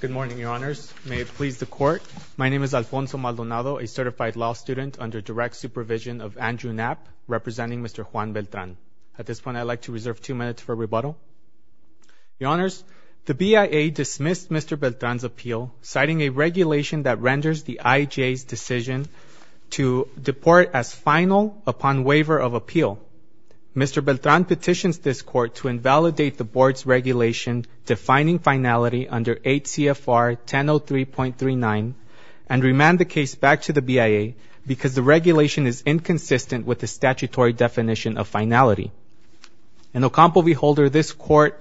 Good morning, your honors. May it please the court. My name is Alfonso Maldonado, a certified law student under direct supervision of Andrew Knapp, representing Mr. Juan Beltran. At this point, I'd like to reserve two minutes for rebuttal. Your honors, the BIA dismissed Mr. Beltran's appeal, citing a regulation that renders the IJ's decision to deport as final upon waiver of appeal. Mr. Beltran petitions this court to invalidate the board's regulation defining finality under 8 CFR 1003.39 and remand the case back to the BIA because the regulation is inconsistent with the statutory definition of finality. In Ocampo v. Holder, this court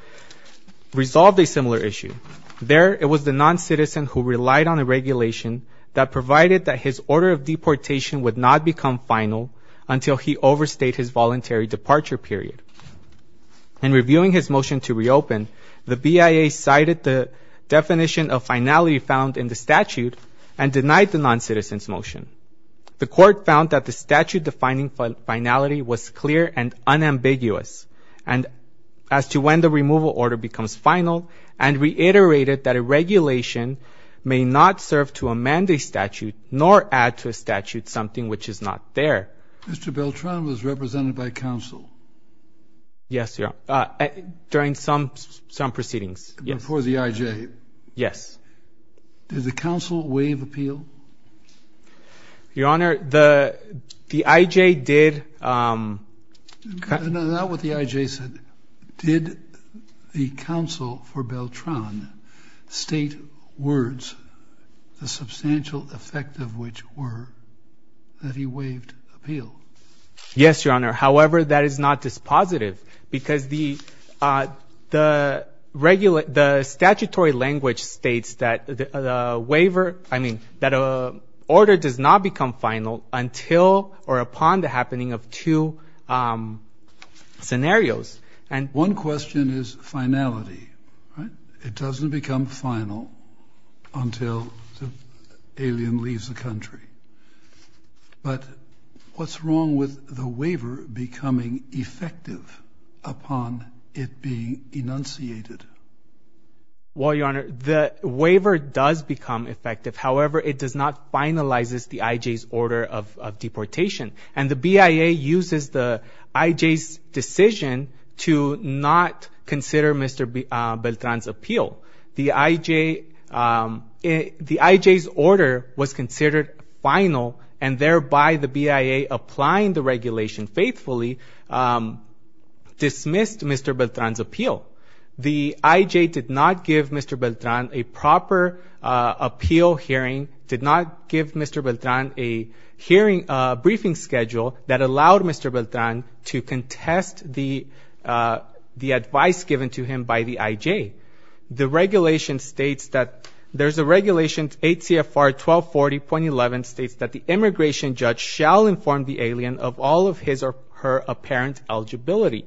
resolved a similar issue. There, it was the non-citizen who relied on a regulation that provided that his order of deportation would not become final until he overstayed his voluntary departure period. In reviewing his motion to reopen, the BIA cited the definition of finality found in the statute and denied the non-citizen's motion. The court found that the statute defining finality was clear and unambiguous as to when the removal order becomes final and reiterated that a regulation may not serve to amend a statute nor add to a statute something which is not there. Mr. Beltran was represented by counsel? Yes, your honor, during some some proceedings. Before the IJ? Yes. Did the counsel waive appeal? Your honor, the the IJ did... Not what the IJ said. Did the counsel for Beltran state words, the substantial effect of which were that he waived appeal? Yes, your honor. However, that is not dispositive because the uh the regular the statutory language states that the waiver, I mean that a order does not become final until or upon the happening of two scenarios. And one question is finality, right? It doesn't become final until the alien leaves the country. But what's wrong with the waiver becoming effective upon it being enunciated? Well, your honor, the waiver does become effective. However, it does not finalize the IJ's order of deportation. And the BIA uses the IJ's decision to not consider Mr. Beltran's appeal. The IJ's order was considered final and thereby the BIA applying the regulation faithfully dismissed Mr. Beltran's appeal. The IJ did not give Mr. Beltran a proper appeal hearing, did not give Mr. Beltran a hearing briefing schedule that allowed Mr. Beltran to contest the the advice given to him by the IJ. The regulation states that there's a regulation 8 CFR 1240.11 states that the immigration judge shall inform the alien of all of his or her apparent eligibility.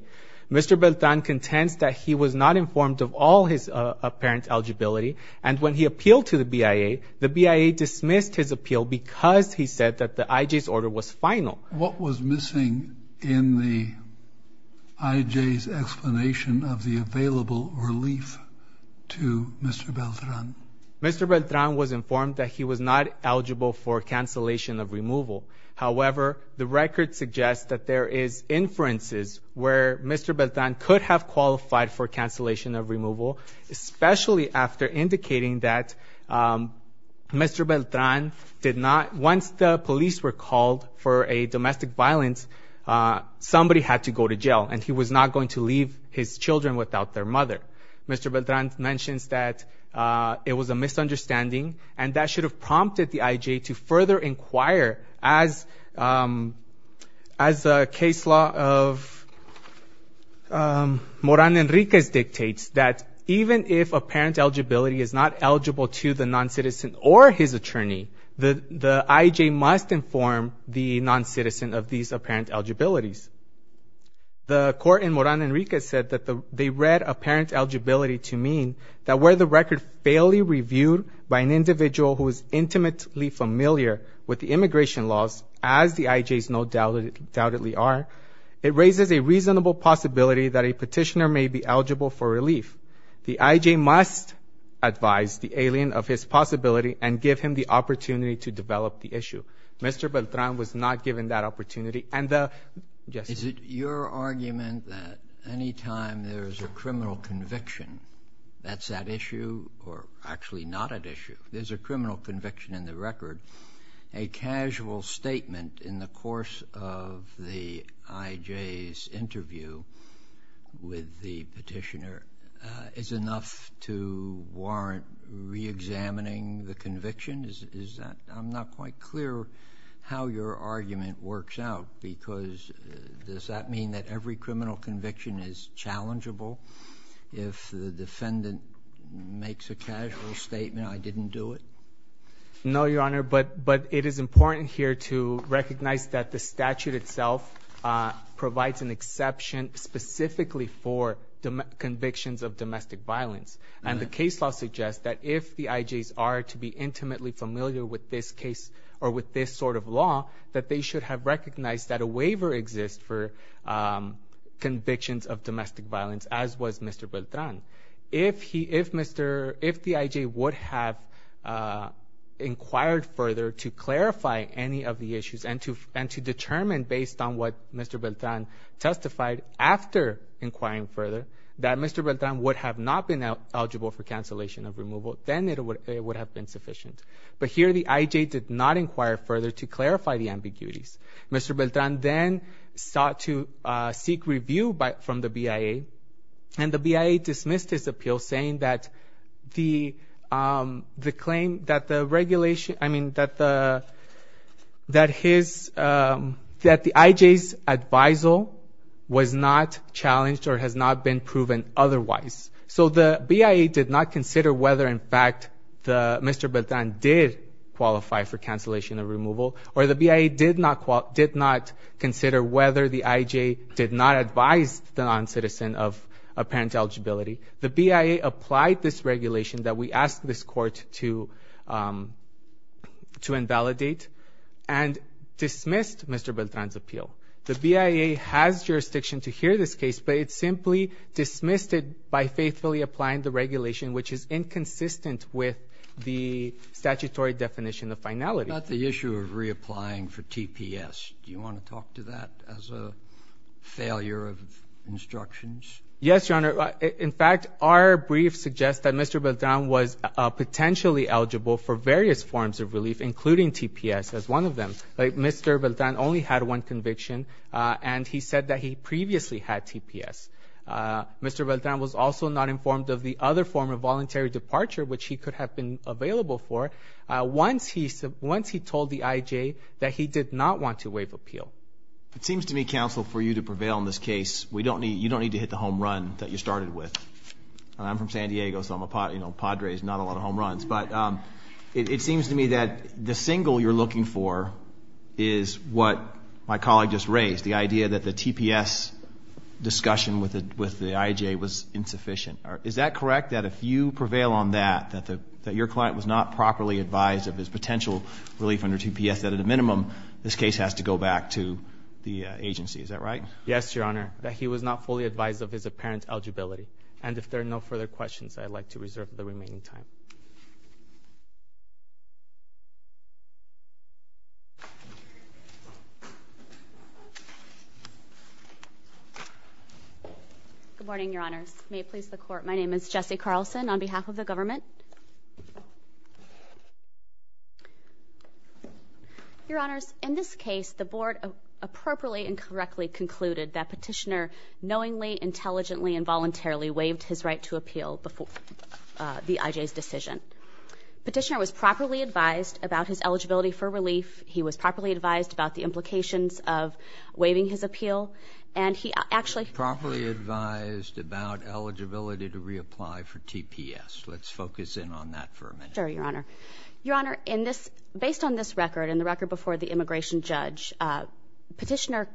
Mr. Beltran contends that he was not informed of all his apparent eligibility. And when he appealed to the BIA, the BIA dismissed his appeal because he said that the IJ's order was final. What was missing in the IJ's explanation of the available relief to Mr. Beltran? Mr. Beltran was informed that he was not eligible for cancellation of removal. However, the record suggests that there is inferences where Mr. Beltran could have qualified for cancellation of removal, especially after indicating that Mr. Beltran did not, once the police were called for a domestic violence, somebody had to go to jail and he was not going to leave his children without their mother. Mr. Beltran mentions that it was a misunderstanding and that should have prompted the IJ to further inquire as a case law of Moran Enriquez dictates that even if apparent eligibility is not eligible to the non-citizen or his attorney, the IJ must inform the non-citizen of these apparent eligibilities. The court in Moran Enriquez said that they read apparent eligibility to mean that where the record fairly reviewed by an individual who is intimately familiar with the immigration laws as the IJ's no doubt doubtedly are, it raises a reasonable possibility that a petitioner may be eligible for relief. The IJ must advise the alien of his possibility and give him the opportunity to develop the issue. Mr. Beltran was not given that opportunity and is it your argument that any time there is a criminal conviction that is at issue or actually not at issue, there is a criminal conviction in the record, a casual statement in the course of the IJ's interview with the petitioner is enough to warrant reexamining the conviction? I am not quite clear how your argument works out because does that mean that every criminal conviction is challengeable if the defendant makes a casual statement, I didn't do it? No, your honor, but it is important here to recognize that the statute itself provides an exception specifically for convictions of domestic violence and the case law suggests that if the IJ's are to be or with this sort of law that they should have recognized that a waiver exists for convictions of domestic violence as was Mr. Beltran. If the IJ would have inquired further to clarify any of the issues and to determine based on what Mr. Beltran testified after inquiring further that Mr. Beltran would have not been eligible for cancellation of removal, then it would have been sufficient, but here the IJ did not inquire further to clarify the ambiguities. Mr. Beltran then sought to seek review from the BIA and the BIA dismissed his appeal saying that the claim that the regulation, I mean that the IJ's advisal was not Mr. Beltran did qualify for cancellation of removal or the BIA did not consider whether the IJ did not advise the non-citizen of apparent eligibility. The BIA applied this regulation that we asked this court to invalidate and dismissed Mr. Beltran's appeal. The BIA has jurisdiction to hear this case, but it simply dismissed it by faithfully applying the regulation which is inconsistent with the statutory definition of finality. About the issue of reapplying for TPS, do you want to talk to that as a failure of instructions? Yes your honor, in fact our brief suggests that Mr. Beltran was potentially eligible for various forms of relief including TPS as one of them. Mr. Beltran only had one conviction and he said that he previously had voluntary departure which he could have been available for once he told the IJ that he did not want to waive appeal. It seems to me counsel for you to prevail in this case, you don't need to hit the home run that you started with. I'm from San Diego so I'm a Padres, not a lot of home runs, but it seems to me that the single you're looking for is what my colleague just raised, the idea that the TPS discussion with the IJ was insufficient. Is that correct that if you prevail on that, that your client was not properly advised of his potential relief under TPS, that at a minimum this case has to go back to the agency, is that right? Yes your honor, that he was not fully advised of his apparent eligibility and if there are no further questions I'd like to reserve the Good morning your honors, may it please the court, my name is Jesse Carlson on behalf of the government. Your honors, in this case the board appropriately and correctly concluded that petitioner knowingly, intelligently, and voluntarily waived his right to appeal before the IJ's decision. Petitioner was properly advised about his eligibility for relief, he was properly advised about the implications of waiving his appeal, and he actually properly advised about eligibility to reapply for TPS. Let's focus in on that for a minute. Sure your honor. Your honor, in this, based on this record and the record before the immigration judge, petitioner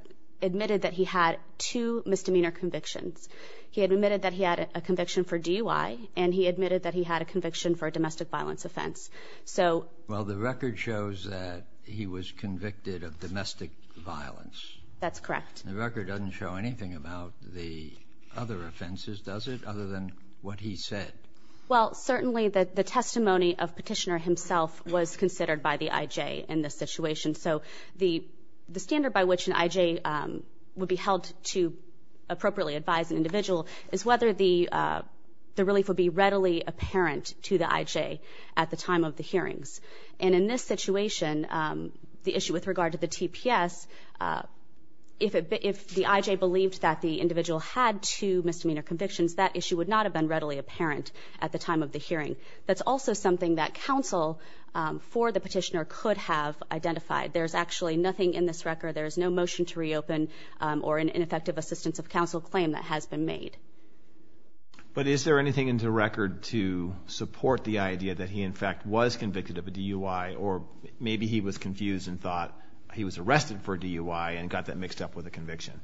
admitted that he had two misdemeanor convictions. He had admitted that he had a conviction for DUI and he admitted that he had a conviction for a domestic violence offense. So, well the record shows that he was convicted of domestic violence. That's correct. The record doesn't show anything about the other offenses does it, other than what he said? Well, certainly that the testimony of petitioner himself was considered by the IJ in this situation. So, the standard by which an IJ would be held to appropriately advise an individual is whether the relief would be readily apparent to the IJ at the time of the hearings. And in this situation, the issue with regard to the TPS, if the IJ believed that the individual had two misdemeanor convictions, that issue would not have been readily apparent at the time of the hearing. That's also something that counsel for the petitioner could have identified. There's actually nothing in this record, there is no motion to reopen or an ineffective assistance of counsel claim that has been made. But is there anything in the record to support the idea that he in fact was convicted of a DUI or maybe he was confused and thought he was arrested for a DUI and got that mixed up with a conviction?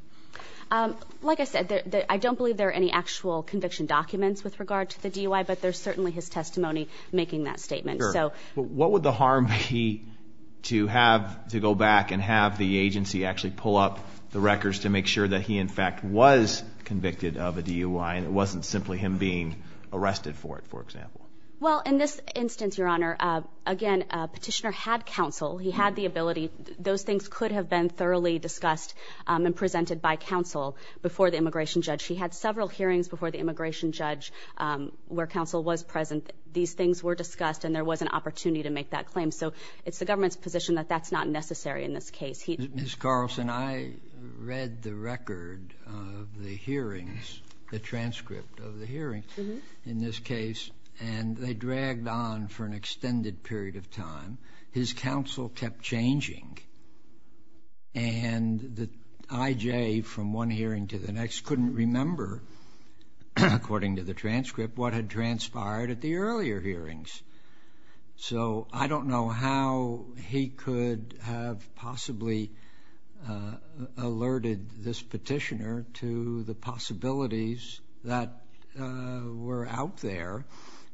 Like I said, I don't believe there are any actual conviction documents with regard to the DUI, but there's certainly his testimony making that statement. So, what would the harm be to have to go back and have the agency actually pull up the records to make sure that he in fact was convicted of a DUI and it wasn't simply him being arrested for it, for example? Well, in this instance, your honor, again, petitioner had counsel, he had the ability, those things could have been thoroughly discussed and presented by counsel before the immigration judge. He had several hearings before the immigration judge where counsel was present. These things were discussed and there was an opportunity to make that claim. So, it's the government's position that that's not necessary in this case. Ms. Carlson, I read the record of the hearings, the transcript of the hearings in this case, and they dragged on for an extended period of time. His counsel kept changing and the IJ from one hearing to the next couldn't remember, according to the transcript, what had transpired at the earlier hearings. So, I don't know how he could have possibly alerted this petitioner to the possibilities that were out there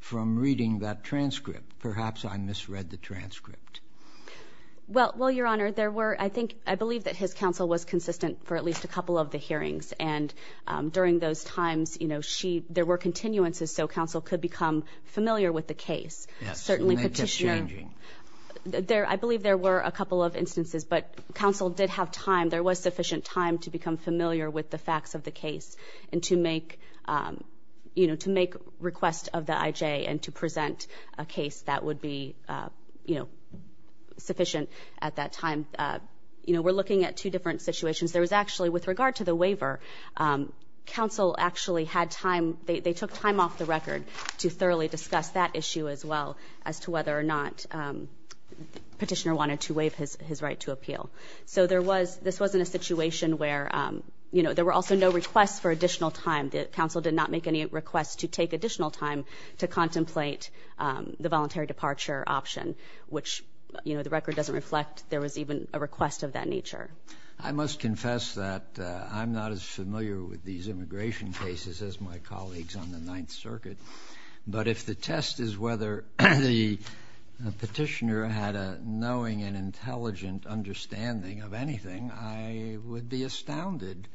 from reading that transcript. Perhaps I misread the transcript. Well, your honor, I believe that his counsel was consistent for at least a couple of hearings and during those times, you know, there were continuances so counsel could become familiar with the case. Certainly petitioner, I believe there were a couple of instances, but counsel did have time, there was sufficient time to become familiar with the facts of the case and to make, you know, to make requests of the IJ and to present a case that would be, you know, sufficient at that time. You know, we're looking at two different situations. There was actually, with regard to the waiver, counsel actually had time, they took time off the record to thoroughly discuss that issue as well as to whether or not petitioner wanted to waive his right to appeal. So, there was, this wasn't a situation where, you know, there were also no requests for additional time. The counsel did not make any requests to take additional time to contemplate the voluntary departure option, which, you know, the record doesn't reflect there was even a request of that nature. I must confess that I'm not as familiar with these immigration cases as my colleagues on the Ninth Circuit, but if the test is whether the petitioner had a knowing and intelligent understanding of anything, I would be astounded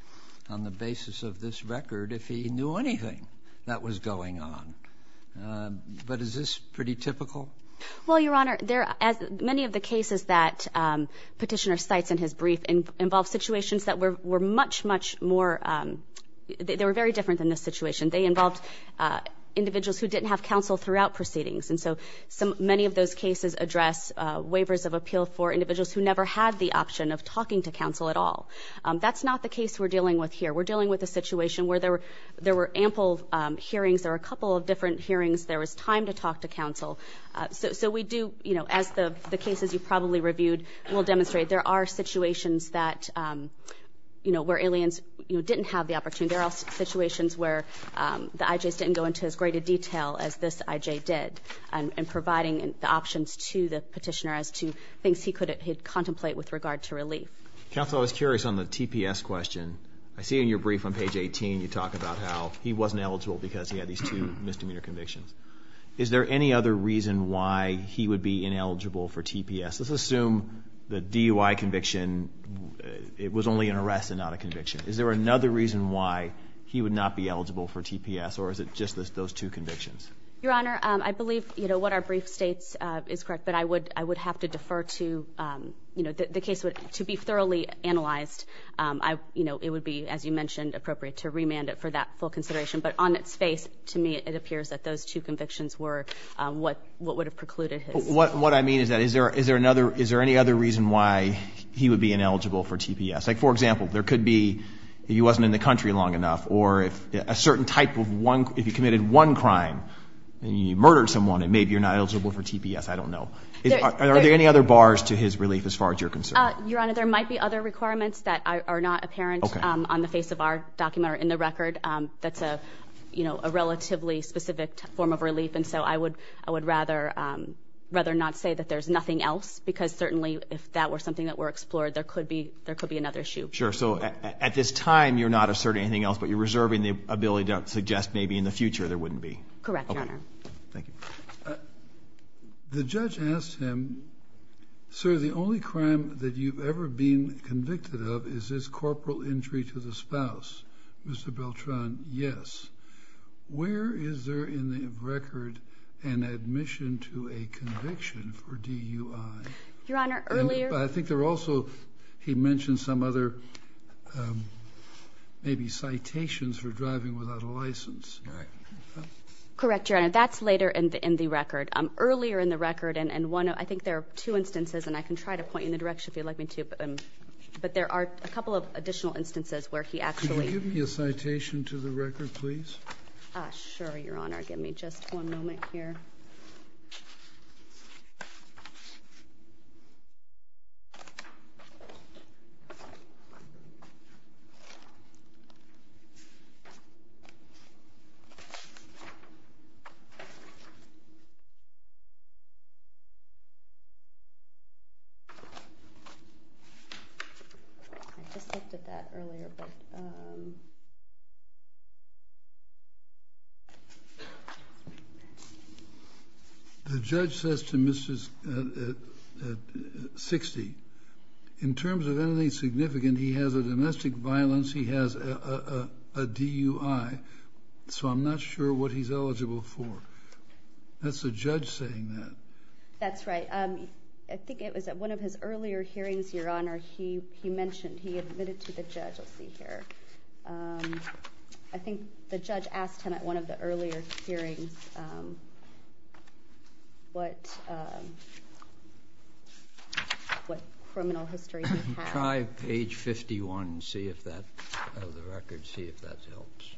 on the basis of this record if he knew anything that was going on. But is this pretty typical? Well, Your Honor, there, as many of the cases that petitioner cites in his brief involve situations that were much, much more, they were very different than this situation. They involved individuals who didn't have counsel throughout proceedings. And so, some, many of those cases address waivers of appeal for individuals who never had the option of talking to counsel at all. That's not the case we're dealing with here. We're dealing with a situation where there were ample hearings, there were a couple of hearings, there was time to talk to counsel. So we do, you know, as the cases you probably reviewed will demonstrate, there are situations that, you know, where aliens, you know, didn't have the opportunity. There are situations where the IJs didn't go into as great a detail as this IJ did and providing the options to the petitioner as to things he could contemplate with regard to relief. Counsel, I was curious on the TPS question. I see in your brief on page 18, you talk about how he wasn't eligible because he had these two misdemeanor convictions. Is there any other reason why he would be ineligible for TPS? Let's assume the DUI conviction, it was only an arrest and not a conviction. Is there another reason why he would not be eligible for TPS, or is it just those two convictions? Your Honor, I believe, you know, what our brief states is correct, but I would have to defer to, you know, the case would, to be thoroughly analyzed, you know, it would be, as But on its face, to me, it appears that those two convictions were what would have precluded his. What I mean is that, is there another, is there any other reason why he would be ineligible for TPS? Like, for example, there could be, he wasn't in the country long enough, or if a certain type of one, if he committed one crime and he murdered someone, and maybe you're not eligible for TPS, I don't know. Are there any other bars to his relief as far as you're concerned? Your Honor, there might be other requirements that are not apparent on the face of our document or in the you know, a relatively specific form of relief, and so I would, I would rather, rather not say that there's nothing else, because certainly if that were something that were explored, there could be, there could be another issue. Sure, so at this time, you're not asserting anything else, but you're reserving the ability to suggest maybe in the future there wouldn't be. Correct, Your Honor. Thank you. The judge asked him, sir, the only crime that you've ever been convicted of is his TPS. Where is there in the record an admission to a conviction for DUI? Your Honor, earlier... I think there also, he mentioned some other maybe citations for driving without a license. Correct, Your Honor. That's later in the record. Earlier in the record, and one, I think there are two instances, and I can try to point you in the direction if you'd like me to, but there are a to the record, please. Sure, Your Honor. Give me just one moment here. I just looked at that earlier, but... The judge says to Mr. 60, in terms of anything significant, he has a domestic violence, he has a DUI, so I'm not sure what he's eligible for. That's the judge saying that. That's right. I think it was at one of his earlier hearings, Your Honor, he mentioned he admitted to the judge. I'll see hearings what criminal history... Try page 51, see if that, of the record, see if that helps.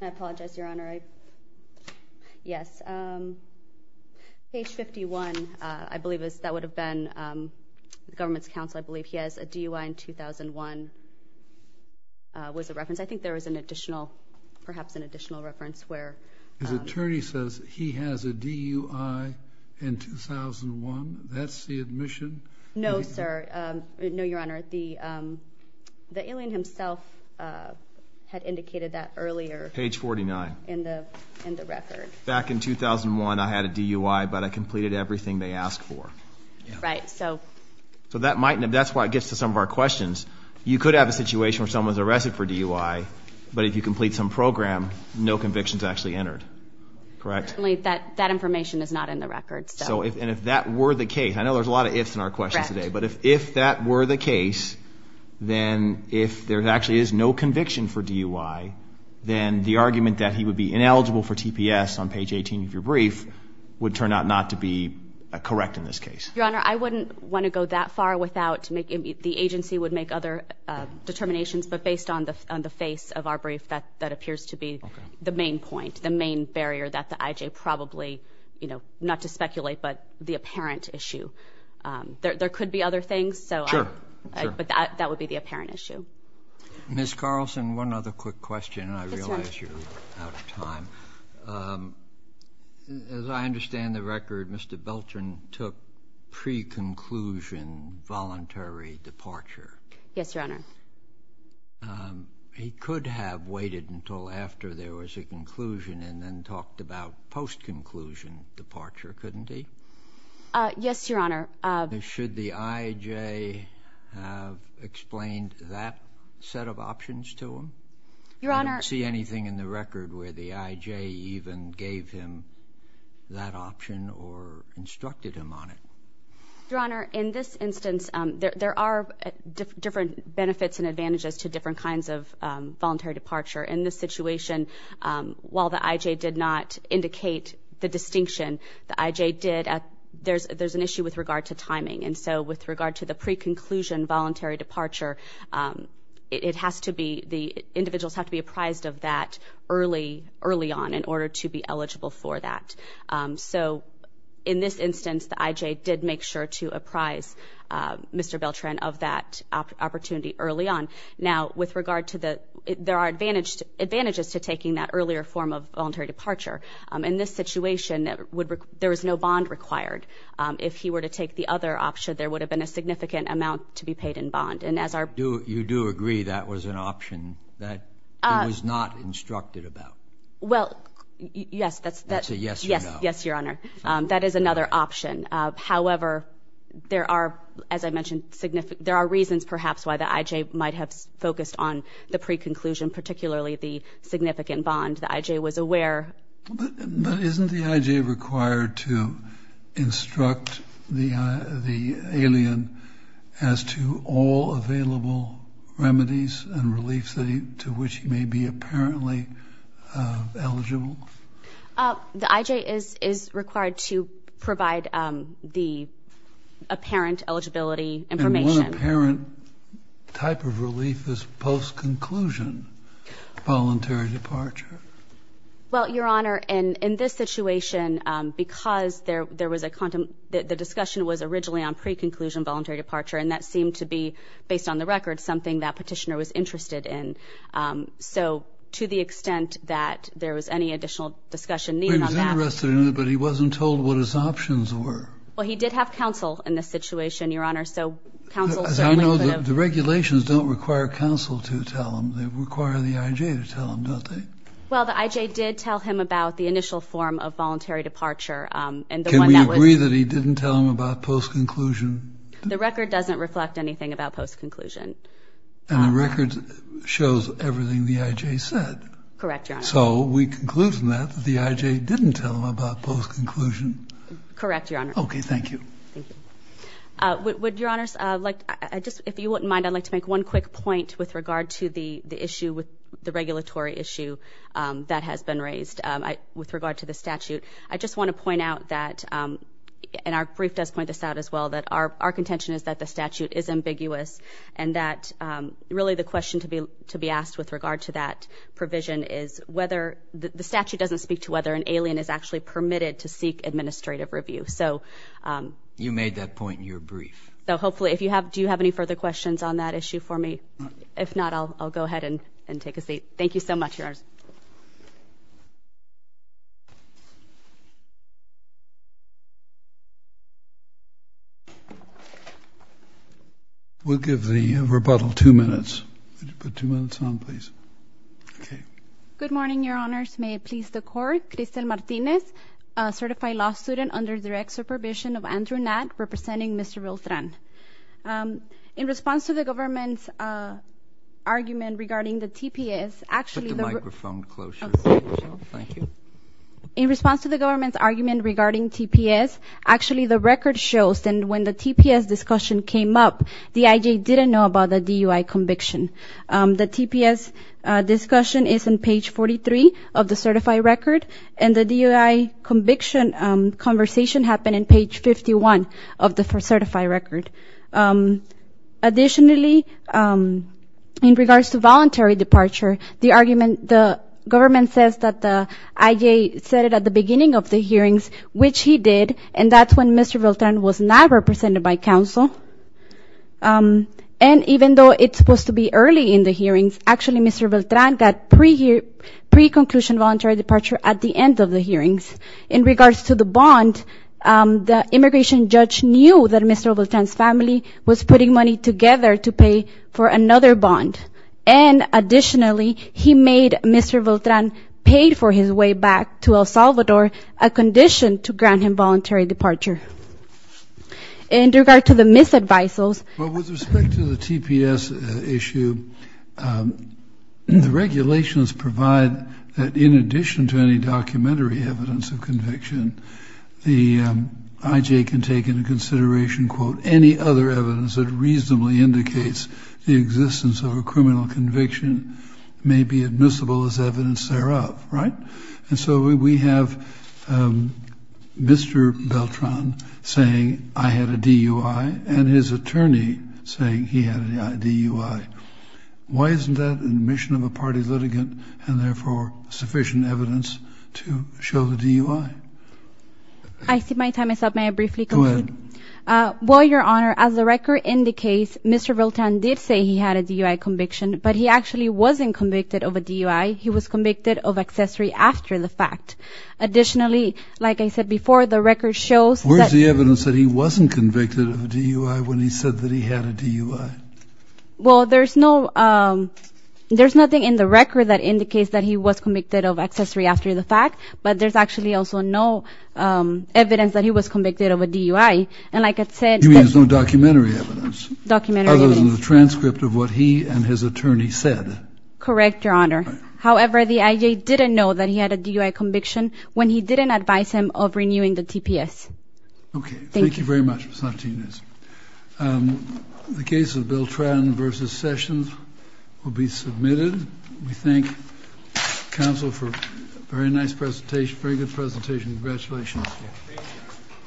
I apologize, Your Honor. Yes. Page 51, I believe that would have been the government's counsel, I believe he has a DUI in 2001 was a reference. I think there was an additional, perhaps an additional reference where... His attorney says he has a DUI in 2001. That's the admission? No, sir. No, Your Honor. The alien himself had indicated that earlier. Page 49. In the record. Back in 2001, I had a DUI, but I completed everything they asked for. Right, so... So that's why it gets to some of our questions. You could have a situation where someone's arrested for DUI, but if you complete some program, no convictions actually entered. Correct? That information is not in the record, so... And if that were the case, I know there's a lot of ifs in our questions today, but if that were the case, then if there actually is no conviction for DUI, then the argument that he would be ineligible for TPS on page 18 of your brief would turn out not to be correct in this case. Your Honor, I wouldn't want to go that far without making... The agency would make other determinations, but based on the face of our brief, that appears to be the main point, the main barrier that the IJ probably, not to speculate, but the apparent issue. There could be other things, so... Sure, sure. But that would be the apparent issue. Ms. Carlson, one other quick question, and I realize you're out of time. As I understand the record, Mr. Belton took pre-conclusion voluntary departure. Yes, Your Honor. He could have waited until after there was a conclusion and then talked about post-conclusion departure, couldn't he? Yes, Your Honor. Should the IJ have explained that set of options to him? Your Honor... I don't see anything in the record where the IJ even gave him that option or instructed him on it. Your Honor, in this instance, there are different benefits and advantages to different kinds of voluntary departure. In this situation, while the IJ did not indicate the distinction, the IJ did... There's an issue with regard to timing, and so with regard to the pre-conclusion voluntary departure, it has to be... The individuals have to be apprised of that early on in order to be eligible for that. So, in this instance, the IJ did make sure to apprise Mr. Beltran of that opportunity early on. Now, with regard to the... There are advantages to taking that earlier form voluntary departure. In this situation, there is no bond required. If he were to take the other option, there would have been a significant amount to be paid in bond, and as our... You do agree that was an option that he was not instructed about? Well, yes, that's... That's a yes or no. Yes, Your Honor. That is another option. However, there are, as I mentioned, there are reasons perhaps why the IJ might have focused on the pre-conclusion, particularly the significant bond the IJ was aware. But isn't the IJ required to instruct the alien as to all available remedies and reliefs to which he may be apparently eligible? The IJ is required to provide the apparent eligibility information. And one apparent type of relief is post-conclusion voluntary departure. Well, Your Honor, in this situation, because there was a... The discussion was originally on pre-conclusion voluntary departure, and that seemed to be, based on the record, something that Petitioner was interested in. So, to the extent that there was any additional discussion needed on that... He was interested in it, but he wasn't told what his options were. Well, he did have counsel in this situation, Your Honor, so counsel certainly could have... The regulations don't require counsel to tell him. They require the IJ to tell him, don't they? Well, the IJ did tell him about the initial form of voluntary departure, and the one that was... Can we agree that he didn't tell him about post-conclusion? The record doesn't reflect anything about post-conclusion. And the record shows everything the IJ said. Correct, Your Honor. So, we conclude from that that the IJ didn't tell him about post-conclusion. Correct, Your Honor. Okay, thank you. Thank you. Would Your Honors like... If you wouldn't mind, I'd like to make one quick point with regard to the issue, the regulatory issue that has been raised with regard to the statute. I just want to point out that, and our brief does point this out as well, that our contention is that the statute is ambiguous, and that really the question to be asked with regard to that provision is whether... The statute doesn't speak to whether an alien is actually permitted to seek administrative review. So... You made that point in your brief. So, hopefully, if you have... Do you have any further questions on that issue for me? If not, I'll go ahead and take a seat. Thank you so much, Your Honors. We'll give the rebuttal two minutes. Could you put two minutes on, please? Okay. Good morning, Your Honors. May it please the Court. Crystal Martinez, a certified law student under direct supervision of Andrew Natt, representing Mr. Viltran. In response to the government's argument regarding the TPS, actually... Put the microphone closer. Thank you. In response to the government's argument regarding TPS, actually, the record shows that when the TPS discussion came up, the IJ didn't know about the DUI conviction. The TPS discussion is on page 43 of the certified record. And the DUI conviction conversation happened on page 51 of the certified record. Additionally, in regards to voluntary departure, the argument... The government says that the IJ said it at the beginning of the hearings, which he did. And that's when Mr. Viltran was not represented by counsel. And even though it's supposed to be early in the hearings, actually, Mr. Viltran got pre-conclusion voluntary departure at the end of the hearings. In regards to the bond, the immigration judge knew that Mr. Viltran's family was putting money together to pay for another bond. And additionally, he made Mr. Viltran pay for his way back to El Salvador, a condition to grant him voluntary departure. In regard to the misadvisals... Well, with respect to the TPS issue, the regulations provide that in addition to any documentary evidence of conviction, the IJ can take into consideration, quote, any other evidence that reasonably indicates the existence of a criminal conviction may be admissible as evidence thereof. Right? And so we have Mr. Viltran saying, I had a DUI, and his attorney saying he had a DUI. Why isn't that in the mission of a party litigant and therefore sufficient evidence to show the DUI? I see my time is up. May I briefly conclude? Go ahead. Well, Your Honor, as the record indicates, Mr. Viltran did say he had a DUI conviction, but he actually wasn't convicted of a DUI. He was convicted of accessory after the fact. Additionally, like I said before, the record shows that... Where's the evidence that he wasn't convicted of a DUI when he said that he had a DUI? Well, there's no... There's nothing in the record that indicates that he was convicted of accessory after the fact, but there's actually also no evidence that he was convicted of a DUI. And like I said... You mean there's no documentary evidence? Documentary evidence. Other than the transcript of what he and his attorney said? Correct, Your Honor. However, the IJ didn't know that he had a DUI conviction when he didn't advise him of renewing the TPS. Okay. Thank you very much, Ms. Martinez. The case of Viltran v. Sessions will be submitted. We thank counsel for a very nice presentation, very good presentation. Congratulations.